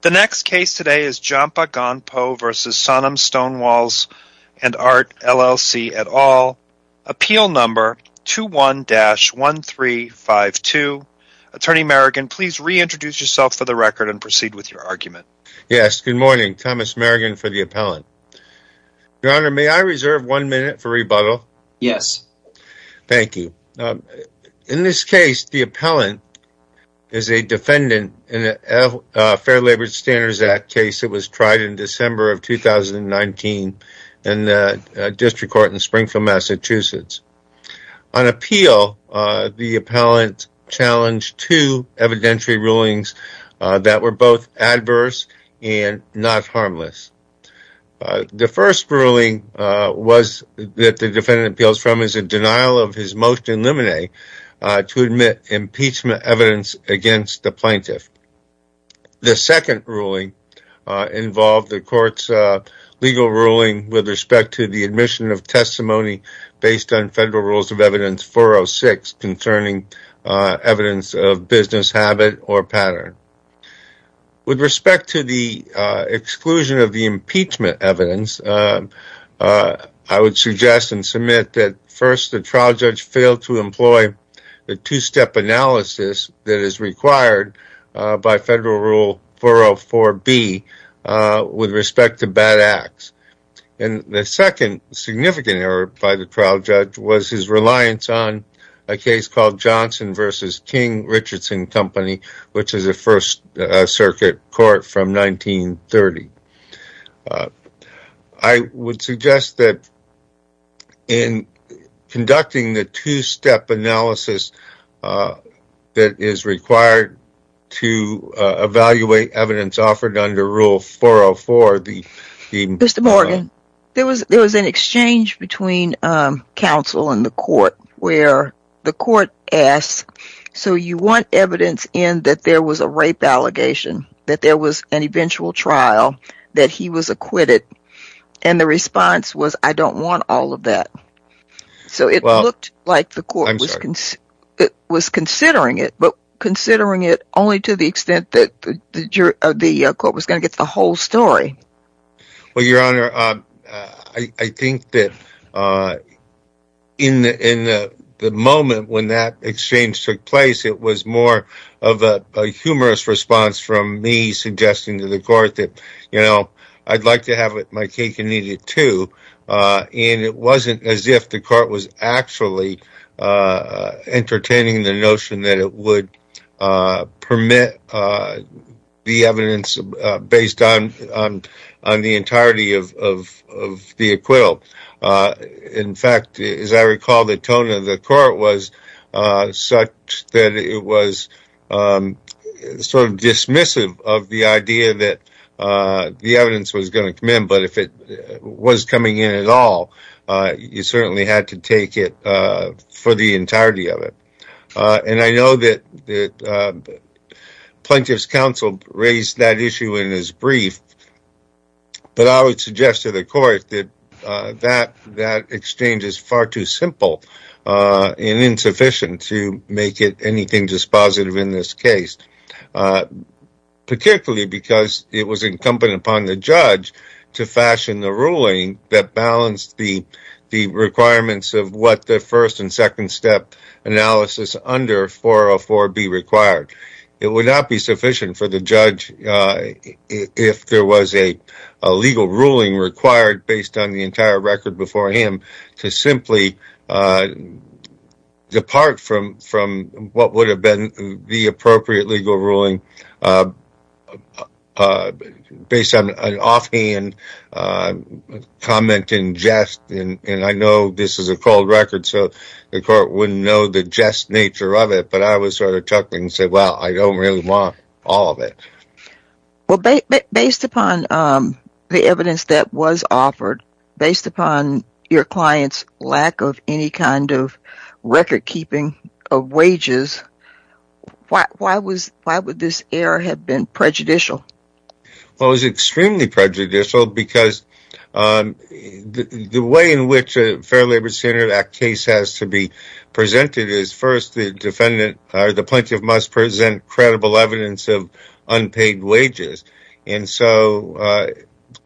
The next case today is Jampa Gonpo v. Sonam's Stonewalls & Art, LLC, et al. Appeal number 21-1352. Attorney Merrigan, please reintroduce yourself for the record and proceed with your argument. Yes, good morning. Thomas Merrigan for the appellant. Your Honor, may I reserve one minute for rebuttal? Yes. Thank you. In this case, the appellant is a defendant in a Fair Labor Standards Act case that was tried in December of 2019 in the District Court in Springfield, Massachusetts. On appeal, the appellant challenged two evidentiary rulings that were both adverse and not harmless. The first ruling that the defendant appeals from is a denial of his against the plaintiff. The second ruling involved the court's legal ruling with respect to the admission of testimony based on Federal Rules of Evidence 406 concerning evidence of business habit or pattern. With respect to the exclusion of the impeachment evidence, I would suggest that the trial judge fail to employ the two-step analysis that is required by Federal Rule 404B with respect to bad acts. The second significant error by the trial judge was his reliance on a case called Johnson v. King-Richardson Company, which is a First Circuit court from 1930. I would suggest that in conducting the two-step analysis that is required to evaluate evidence offered under Rule 404, the... Mr. Morgan, there was an exchange between counsel and the court where the court asked, so you want evidence in that there was a rape allegation, that there was an eventual trial, that he was acquitted, and the response was, I don't want all of that. So it looked like the court was considering it, but considering it only to the extent that the court was going to get the whole story. Well, Your Honor, I think that in the moment when that exchange took place, it was more of a humorous response from me suggesting to the court that, you know, I'd like to have my cake and eat it too, and it wasn't as if the court was actually entertaining the notion that it would permit the evidence based on the entirety of the acquittal. In fact, as I recall, the tone of the court was such that it was sort of dismissive of the idea that the evidence was going to come in, but if it was coming in at all, you certainly had to take it for the entirety of it. And I know that the Plaintiff's Counsel raised that issue in his brief, but I would suggest to the court that that exchange is far too simple and insufficient to make it anything dispositive in this case, particularly because it was incumbent upon the judge to fashion the ruling that balanced the first and second step analysis under 404 be required. It would not be sufficient for the judge if there was a legal ruling required based on the entire record before him to simply depart from what would have been the appropriate legal ruling based on an offhand comment in jest, and I know this is a cold record, so the court wouldn't know the jest nature of it, but I was sort of chuckling and said, well, I don't really want all of it. Well, based upon the evidence that was offered, based upon your client's lack of any kind of prejudicial. Well, it was extremely prejudicial because the way in which a Fair Labor Center Act case has to be presented is first the defendant or the plaintiff must present credible evidence of unpaid wages, and so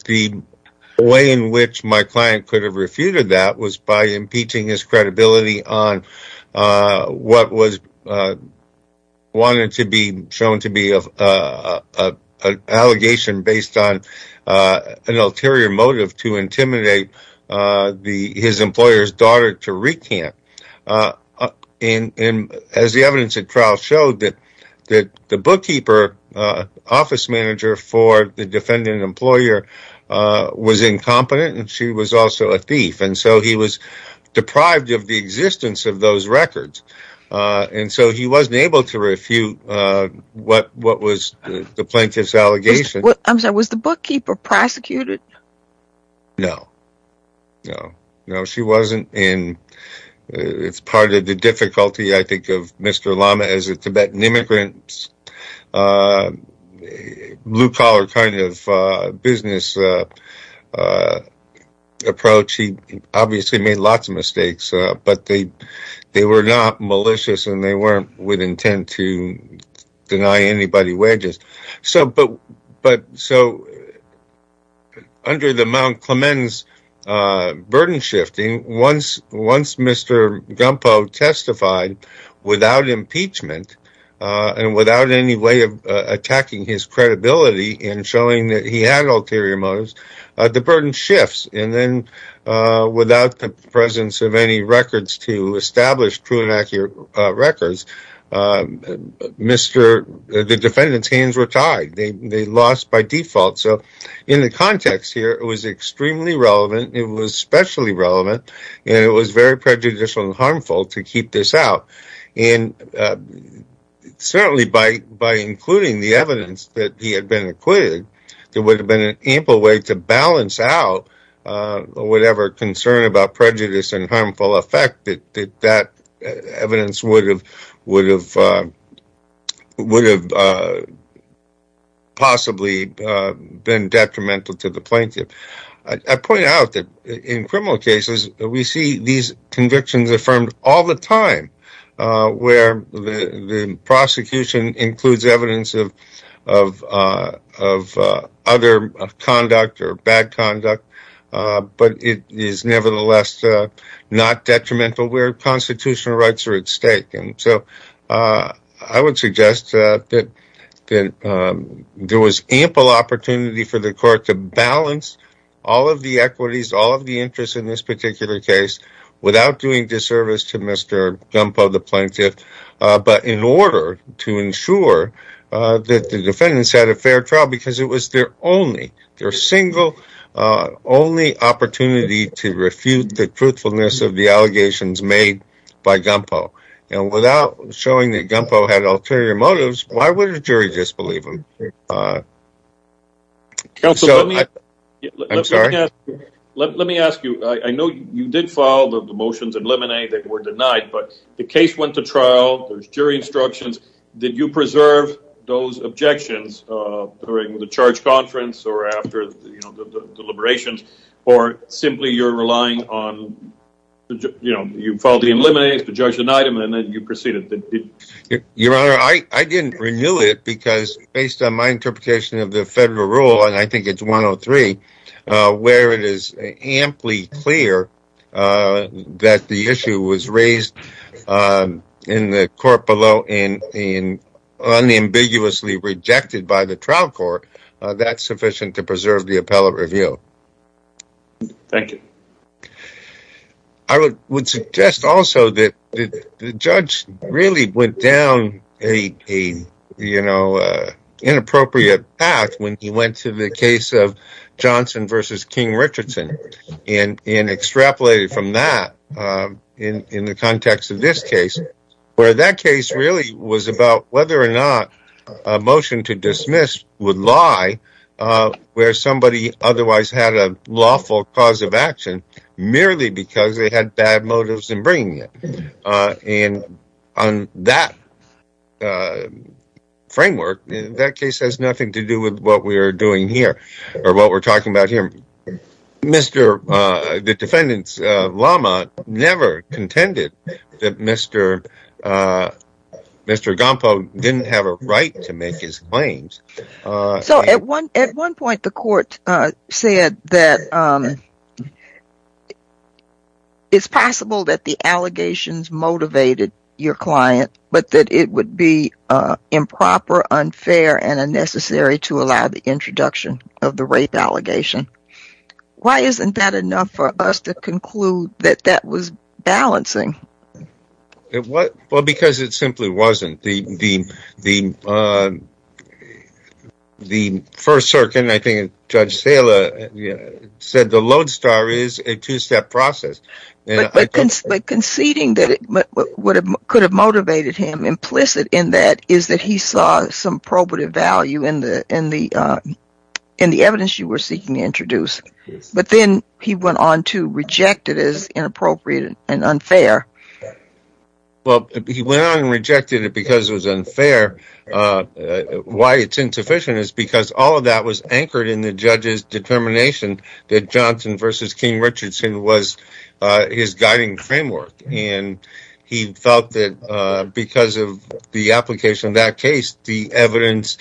the way in which my client could have refuted that was by impeaching his client on the basis of an ulterior motive to intimidate his employer's daughter to recant. As the evidence at trial showed, the bookkeeper office manager for the defendant employer was incompetent, and she was also a thief, and so he was deprived of the existence of those records, and so he wasn't able to refute what was the plaintiff's allegation. I'm sorry, was the bookkeeper prosecuted? No, no, no, she wasn't, and it's part of the difficulty, I think, of Mr. Lama as a Tibetan immigrant, blue-collar kind of business approach. He obviously made lots of mistakes, but they were not malicious, and they weren't with intent to deny anybody wages. So under the Mount Clemens burden shifting, once Mr. Gumpo testified without impeachment and without any way of attacking his credibility in showing that he had ulterior motives, the burden shifts, and then without the presence of any records to establish true and accurate records, the defendant's hands were tied. They lost by default. So in the context here, it was extremely relevant, it was especially relevant, and it was very prejudicial and harmful to keep this out, and certainly by including the evidence that he had been acquitted, there would have been an ample way to balance out whatever concern about prejudice and harmful effect that that evidence would have possibly been detrimental to the plaintiff. I point out that in criminal cases, we see these convictions affirmed all the time, where the prosecution includes evidence of of other conduct or bad conduct, but it is nevertheless not detrimental where constitutional rights are at stake. And so I would suggest that there was ample opportunity for the court to balance all of the equities, all of the interests in this particular case without doing disservice to Mr. Gumpo the plaintiff, but in order to ensure that the defendants had a fair trial, because it was their only, their single, only opportunity to refute the truthfulness of the allegations made by Gumpo. And without showing that Gumpo had ulterior motives, why would a jury disbelieve him? Counsel, let me ask you. I know you did follow the motions in Lemonade that were denied, but the case went to trial, there's jury instructions. Did you preserve those objections during the charge conference or after the deliberations, or simply you're relying on, you know, you filed the Lemonade, the judge denied him, and then you proceeded. Your Honor, I didn't renew it because based on my interpretation of the federal rule, and I think it's 103, where it is amply clear that the issue was raised in the court below and unambiguously rejected by the trial court, that's sufficient to preserve the appellate review. Thank you. I would suggest also that the judge really went down a, you know, inappropriate path when he went to the case of Johnson versus King-Richardson, and extrapolated from that in the context of this case, where that case really was about whether or not a motion to dismiss would lie where somebody otherwise had a lawful cause of action merely because they had bad motives in bringing it. And on that framework, that case has nothing to do with what we're doing here, or what we're talking about here. The defendant's llama never contended that Mr. Mr. Gampo didn't have a right to make his claims. So at one point, the court said that it's possible that the allegations motivated your client, but that it would be improper, unfair, and unnecessary to allow the introduction of the rape allegation. Why isn't that enough for us to conclude that that was balancing? It was, well, because it simply wasn't. The first circuit, I think Judge Sala said the lodestar is a two-step process. But conceding that what could have motivated him implicit in that is that he saw some probative value in the evidence you were seeking to introduce. But then he went on to reject it because it was inappropriate and unfair. Well, he went on and rejected it because it was unfair. Why it's insufficient is because all of that was anchored in the judge's determination that Johnson v. King Richardson was his guiding framework. And he felt that because of the application of that case, the evidence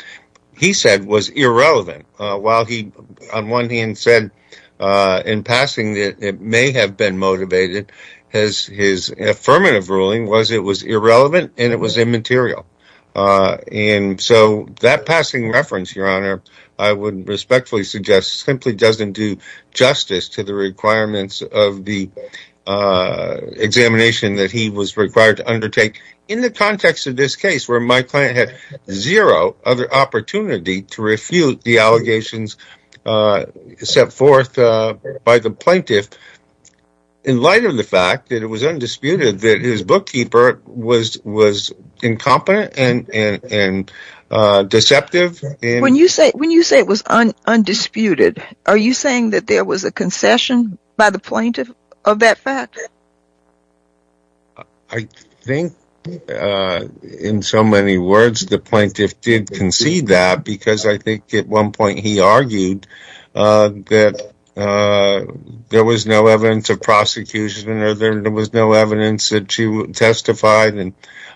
he said was irrelevant. While he, on one hand, said in passing that it may have been motivated, his affirmative ruling was it was irrelevant and it was immaterial. And so that passing reference, Your Honor, I would respectfully suggest simply doesn't do justice to the requirements of the examination that he was required to undertake in the context of this case where my client had zero other opportunity to refute the allegations set forth by the plaintiff in light of the fact that it was undisputed that his bookkeeper was incompetent and deceptive. When you say it was undisputed, are you saying that there was a concession by the plaintiff of that fact? I think, in so many words, the plaintiff did concede that because I think at one point he argued that there was no evidence of prosecution or there was no evidence that she testified. And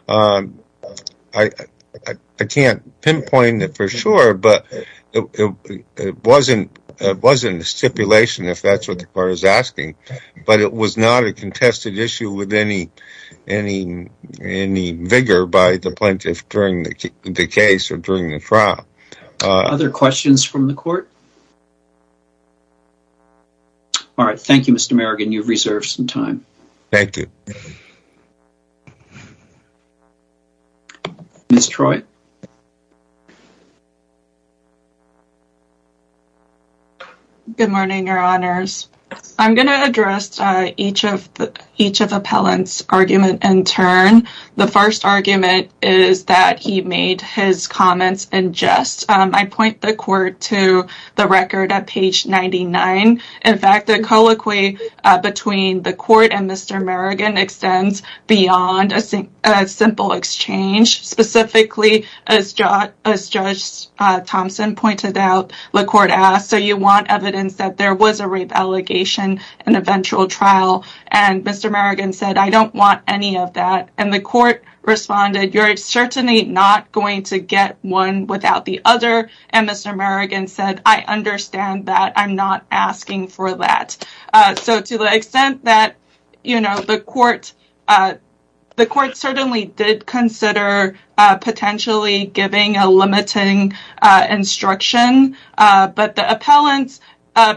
I can't pinpoint it for sure, but it wasn't a stipulation, if that's what the court is saying. It wasn't a contested issue with any vigor by the plaintiff during the case or during the trial. Other questions from the court? All right. Thank you, Mr. Merrigan. You've reserved some time. Thank you. Ms. Troy. Good morning, Your Honors. I'm going to address each of the appellants' arguments in turn. The first argument is that he made his comments in jest. I point the court to the record at page 99. In fact, the colloquy between the court and Mr. Merrigan extends beyond a simple exchange, specifically, as Judge Thompson pointed out, the court asked, so you want evidence that there was a rape allegation in eventual trial? And Mr. Merrigan said, I don't want any of that. And the court responded, you're certainly not going to get one without the other. And Mr. Merrigan said, I understand that. I'm not asking for that. So to the extent that the court certainly did consider potentially giving a limiting instruction, but the appellants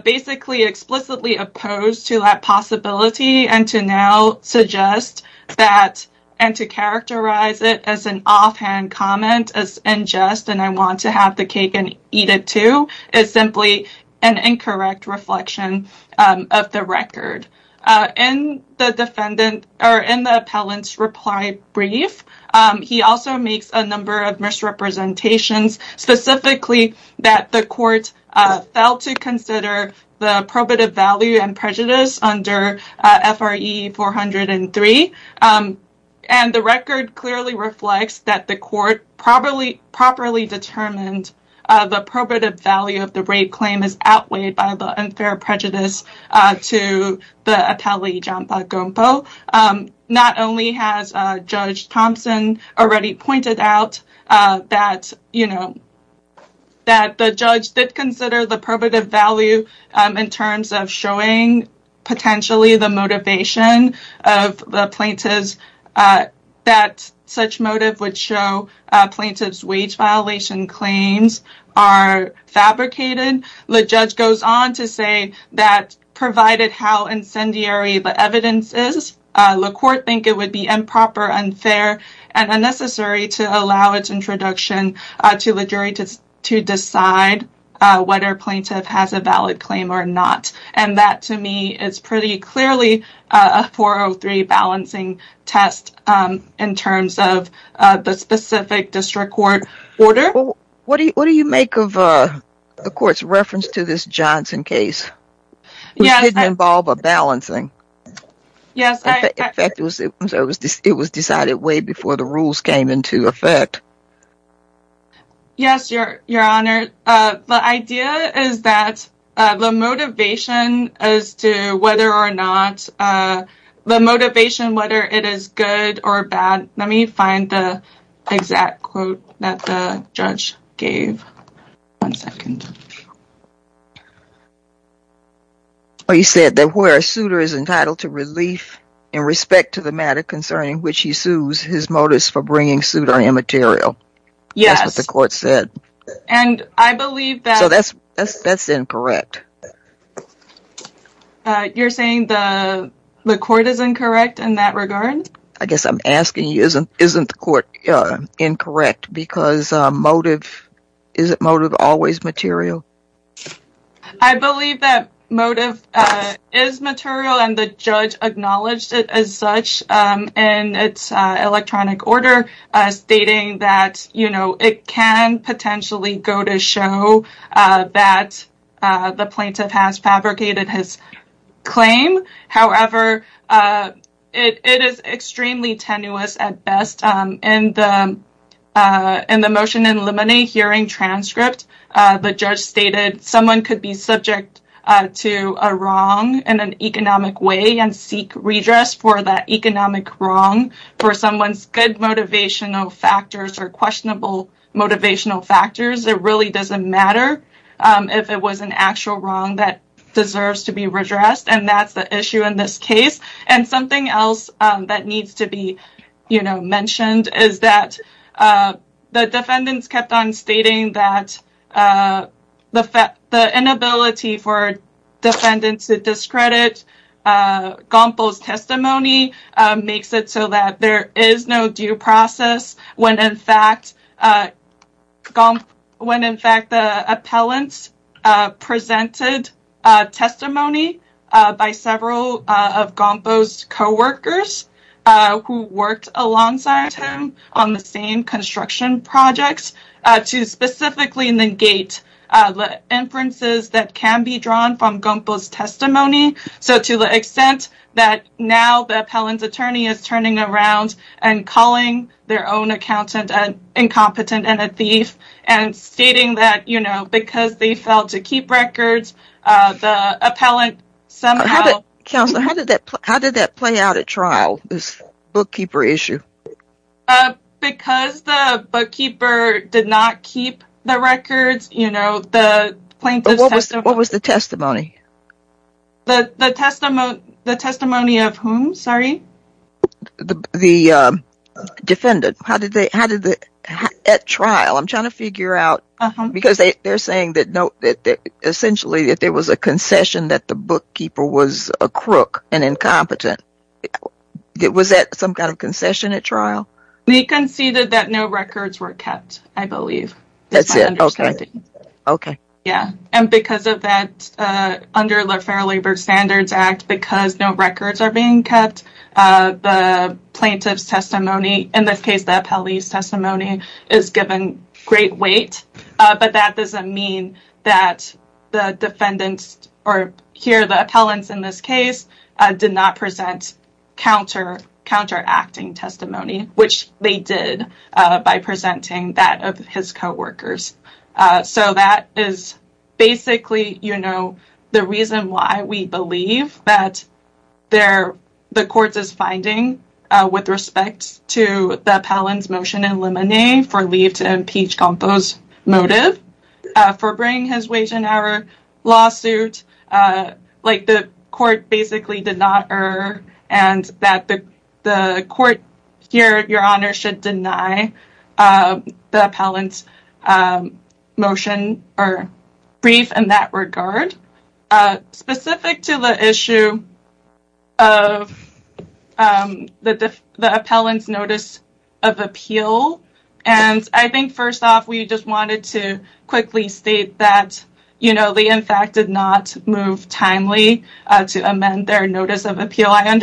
basically explicitly opposed to that possibility and to now suggest that and to characterize it as an offhand comment as in jest, and I want to have the cake and eat it too, is simply an incorrect reflection of the record. In the defendant, or in the appellant's reply brief, he also makes a number of misrepresentations, specifically that the court failed to consider the probative value and prejudice under F.R.E. 403. And the record clearly reflects that the court properly determined the probative value of the rape claim is outweighed by the unfair prejudice to the appellee, John Pagumpo. Not only has Judge Thompson already pointed out that the judge did consider the probative value in terms of showing potentially the motivation of the plaintiff that such motive would show plaintiff's wage violation claims are fabricated, the judge goes on to say that provided how incendiary the evidence is, the court think it would be improper, unfair, and unnecessary to allow its introduction to the jury to decide whether a plaintiff has a valid claim or not. And that to me is pretty clearly a 403 balancing test in terms of the specific district court order. What do you make of the court's reference to this Johnson case, which didn't involve a balancing? Yes, in fact, it was decided way before the rules came into effect. Yes, your honor, the idea is that the motivation as to whether or not, the motivation, whether it is good or bad, let me find the exact quote that the judge gave. One second. He said that where a suitor is entitled to relief in respect to the matter concerning which he sues, his motives for bringing suit are immaterial. That's what the court said. And I believe that... So that's incorrect. You're saying the court is incorrect in that regard? I guess I'm asking you, isn't the court incorrect because motive, is motive always material? I believe that motive is material and the judge acknowledged it as such in its electronic order stating that, you know, it can potentially go to show that the plaintiff has fabricated his claim. However, it is extremely tenuous at best. In the motion in limine hearing transcript, the judge stated someone could be subject to a wrong in an economic way and seek redress for that economic wrong for someone's good motivational factors or questionable motivational factors. It really doesn't matter if it was an actual wrong that deserves to be redressed. And that's the issue in this case. And something else that needs to be, you know, mentioned is that the defendants kept on stating that the inability for defendants to discredit Gumpo's testimony makes it so that there is no due process when in fact the appellants presented testimony by several of Gumpo's co-workers who worked alongside him on the same construction projects to specifically negate the inferences that can be drawn from Gumpo's testimony to the extent that now the appellant's attorney is turning around and calling their own accountant an incompetent and a thief and stating that, you know, because they failed to keep records the appellant somehow... Counselor, how did that play out at trial, this bookkeeper issue? Because the bookkeeper did not keep the records, you know, the plaintiff's testimony... The testimony of whom, sorry? The defendant. How did they, at trial? I'm trying to figure out because they're saying that essentially that there was a concession that the bookkeeper was a crook, an incompetent. Was that some kind of concession at trial? They conceded that no records were kept, I believe. That's it, okay. Okay. Yeah, and because of that, under the Fair Labor Standards Act, because no records are being kept, the plaintiff's testimony, in this case the appellee's testimony, is given great weight. But that doesn't mean that the defendants, or here the appellants in this case, did not present counter-acting testimony, which they did by presenting that of his co-workers. So that is basically, you know, the reason why we believe that the court is finding with respect to the appellant's motion in limine for leave to impeach Gampo's motive for bringing his wage and hour lawsuit, like the court basically did not err, and that the court here, your honor, should deny the appellant's motion or brief in that regard. Specific to the issue of the appellant's notice of appeal, and I think first off, we just wanted to quickly state that, you know, the in fact did not move timely to amend their notice of appeal. I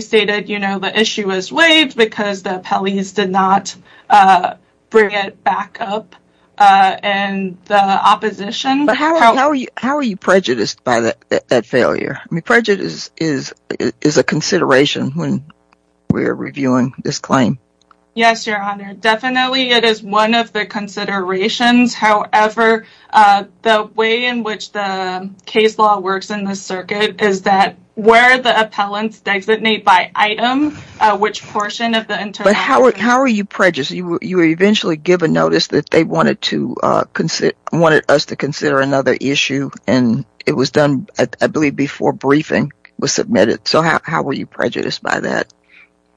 stated, you know, the issue was waived because the appellees did not bring it back up in the opposition. But how are you prejudiced by that failure? I mean, prejudice is a consideration when we're reviewing this claim. Yes, your honor, definitely it is one of the considerations. However, the way in which the case law works in this circuit is that where the appellants designate by item, which portion of the interaction... But how are you prejudiced? You were eventually given notice that they wanted us to consider another issue, and it was done, I believe, before briefing was submitted. So how were you prejudiced by that?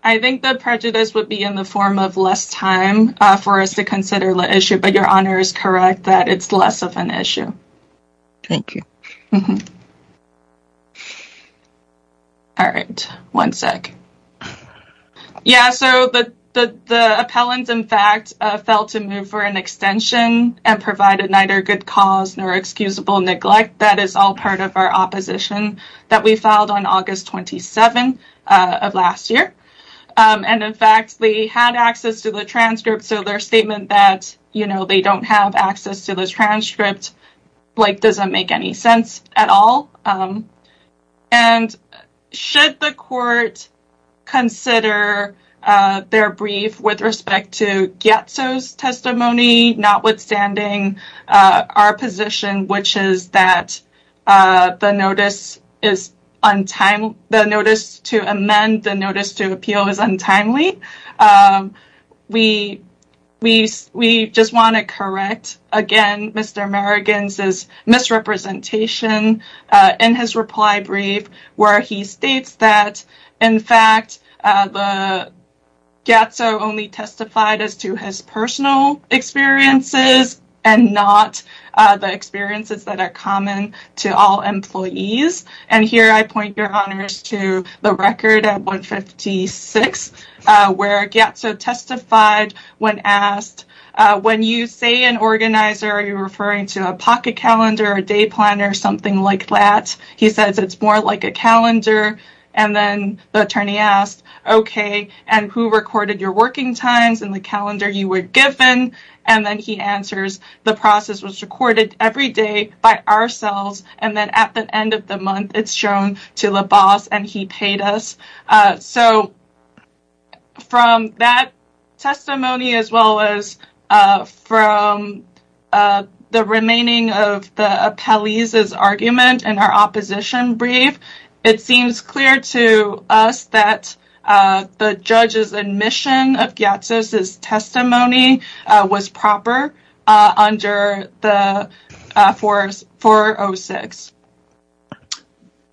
I think the prejudice would be in the less of an issue. Thank you. All right, one sec. Yeah, so the appellant, in fact, failed to move for an extension and provided neither good cause nor excusable neglect. That is all part of our opposition that we filed on August 27 of last year. And in fact, they had access to the transcript, so their statement that, you know, they don't have access to the transcript, like, doesn't make any sense at all. And should the court consider their brief with respect to Gietzo's testimony, notwithstanding our position, which is that the notice to amend the notice to we just want to correct, again, Mr. Merrigan's misrepresentation in his reply brief, where he states that, in fact, Gietzo only testified as to his personal experiences and not the experiences that are common to all employees. And here I point your honors to the record at 156, where Gietzo testified when asked, when you say an organizer, are you referring to a pocket calendar, a day planner, something like that? He says, it's more like a calendar. And then the attorney asked, okay, and who recorded your working times and the calendar you were given? And then he answers, the process was recorded every day by ourselves. And then at the end of month, it's shown to the boss and he paid us. So from that testimony, as well as from the remaining of the appellee's argument in our opposition brief, it seems clear to us that the judge's admission of Gietzo's testimony was proper under the 406.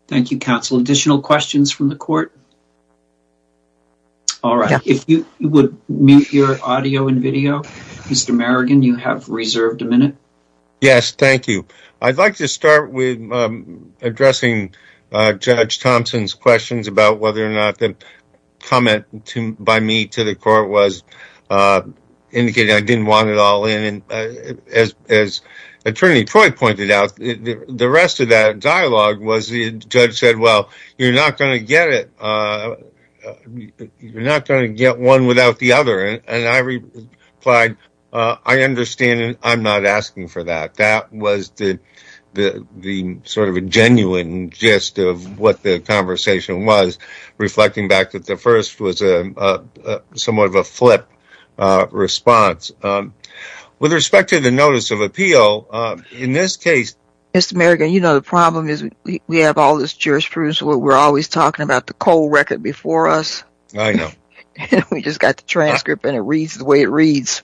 Thank you, counsel. Additional questions from the court? All right. If you would mute your audio and video, Mr. Merrigan, you have reserved a minute. Yes, thank you. I'd like to start with addressing Judge Thompson's questions about whether or not the comment by me to the court was indicating I didn't want it all in. And as attorney Troy pointed out, the rest of that dialogue was the judge said, well, you're not going to get it. You're not going to get one without the other. And I replied, I understand. I'm not asking for that. That was the sort of a genuine gist of what the conversation was, reflecting back that the first was somewhat of a flip response. With respect to the notice of appeal, in this case. Mr. Merrigan, you know, the problem is we have all this jurisprudence where we're always talking about the cold record before us. I know. We just got the transcript and it reads the way it reads.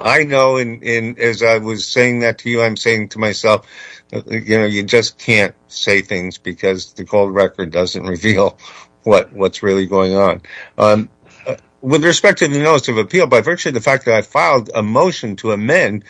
I know. And as I was saying that to you, I'm saying to myself, you know, you just can't say things because the cold record doesn't reveal what what's really going on. With respect to the notice of appeal, by virtue of the fact that I filed a motion to amend,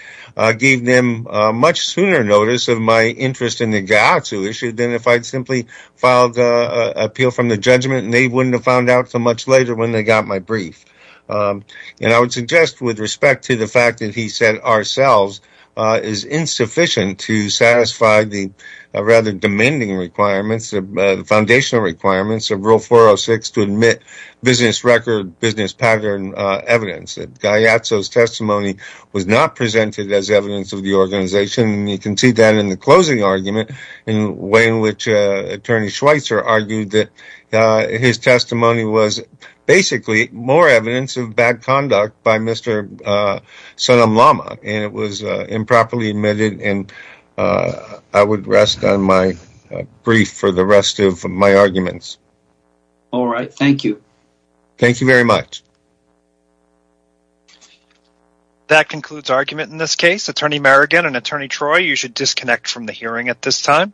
gave them much sooner notice of my interest in the issue than if I'd simply filed appeal from the judgment and they wouldn't have found out so much later when they got my brief. And I would suggest with respect to the fact that he said ourselves is insufficient to satisfy the rather demanding requirements, the foundational requirements of Rule 406 to admit business record, business pattern evidence. Gaiazzo's testimony was not presented as evidence of the organization. You can see that in the closing argument in the way in which Attorney Schweitzer argued that his testimony was basically more evidence of bad conduct by Mr. and it was improperly admitted. And I would rest on my brief for the rest of my arguments. All right. Thank you. Thank you very much. That concludes argument in this case. Attorney Merrigan and Attorney Troy, you should disconnect from the hearing at this time.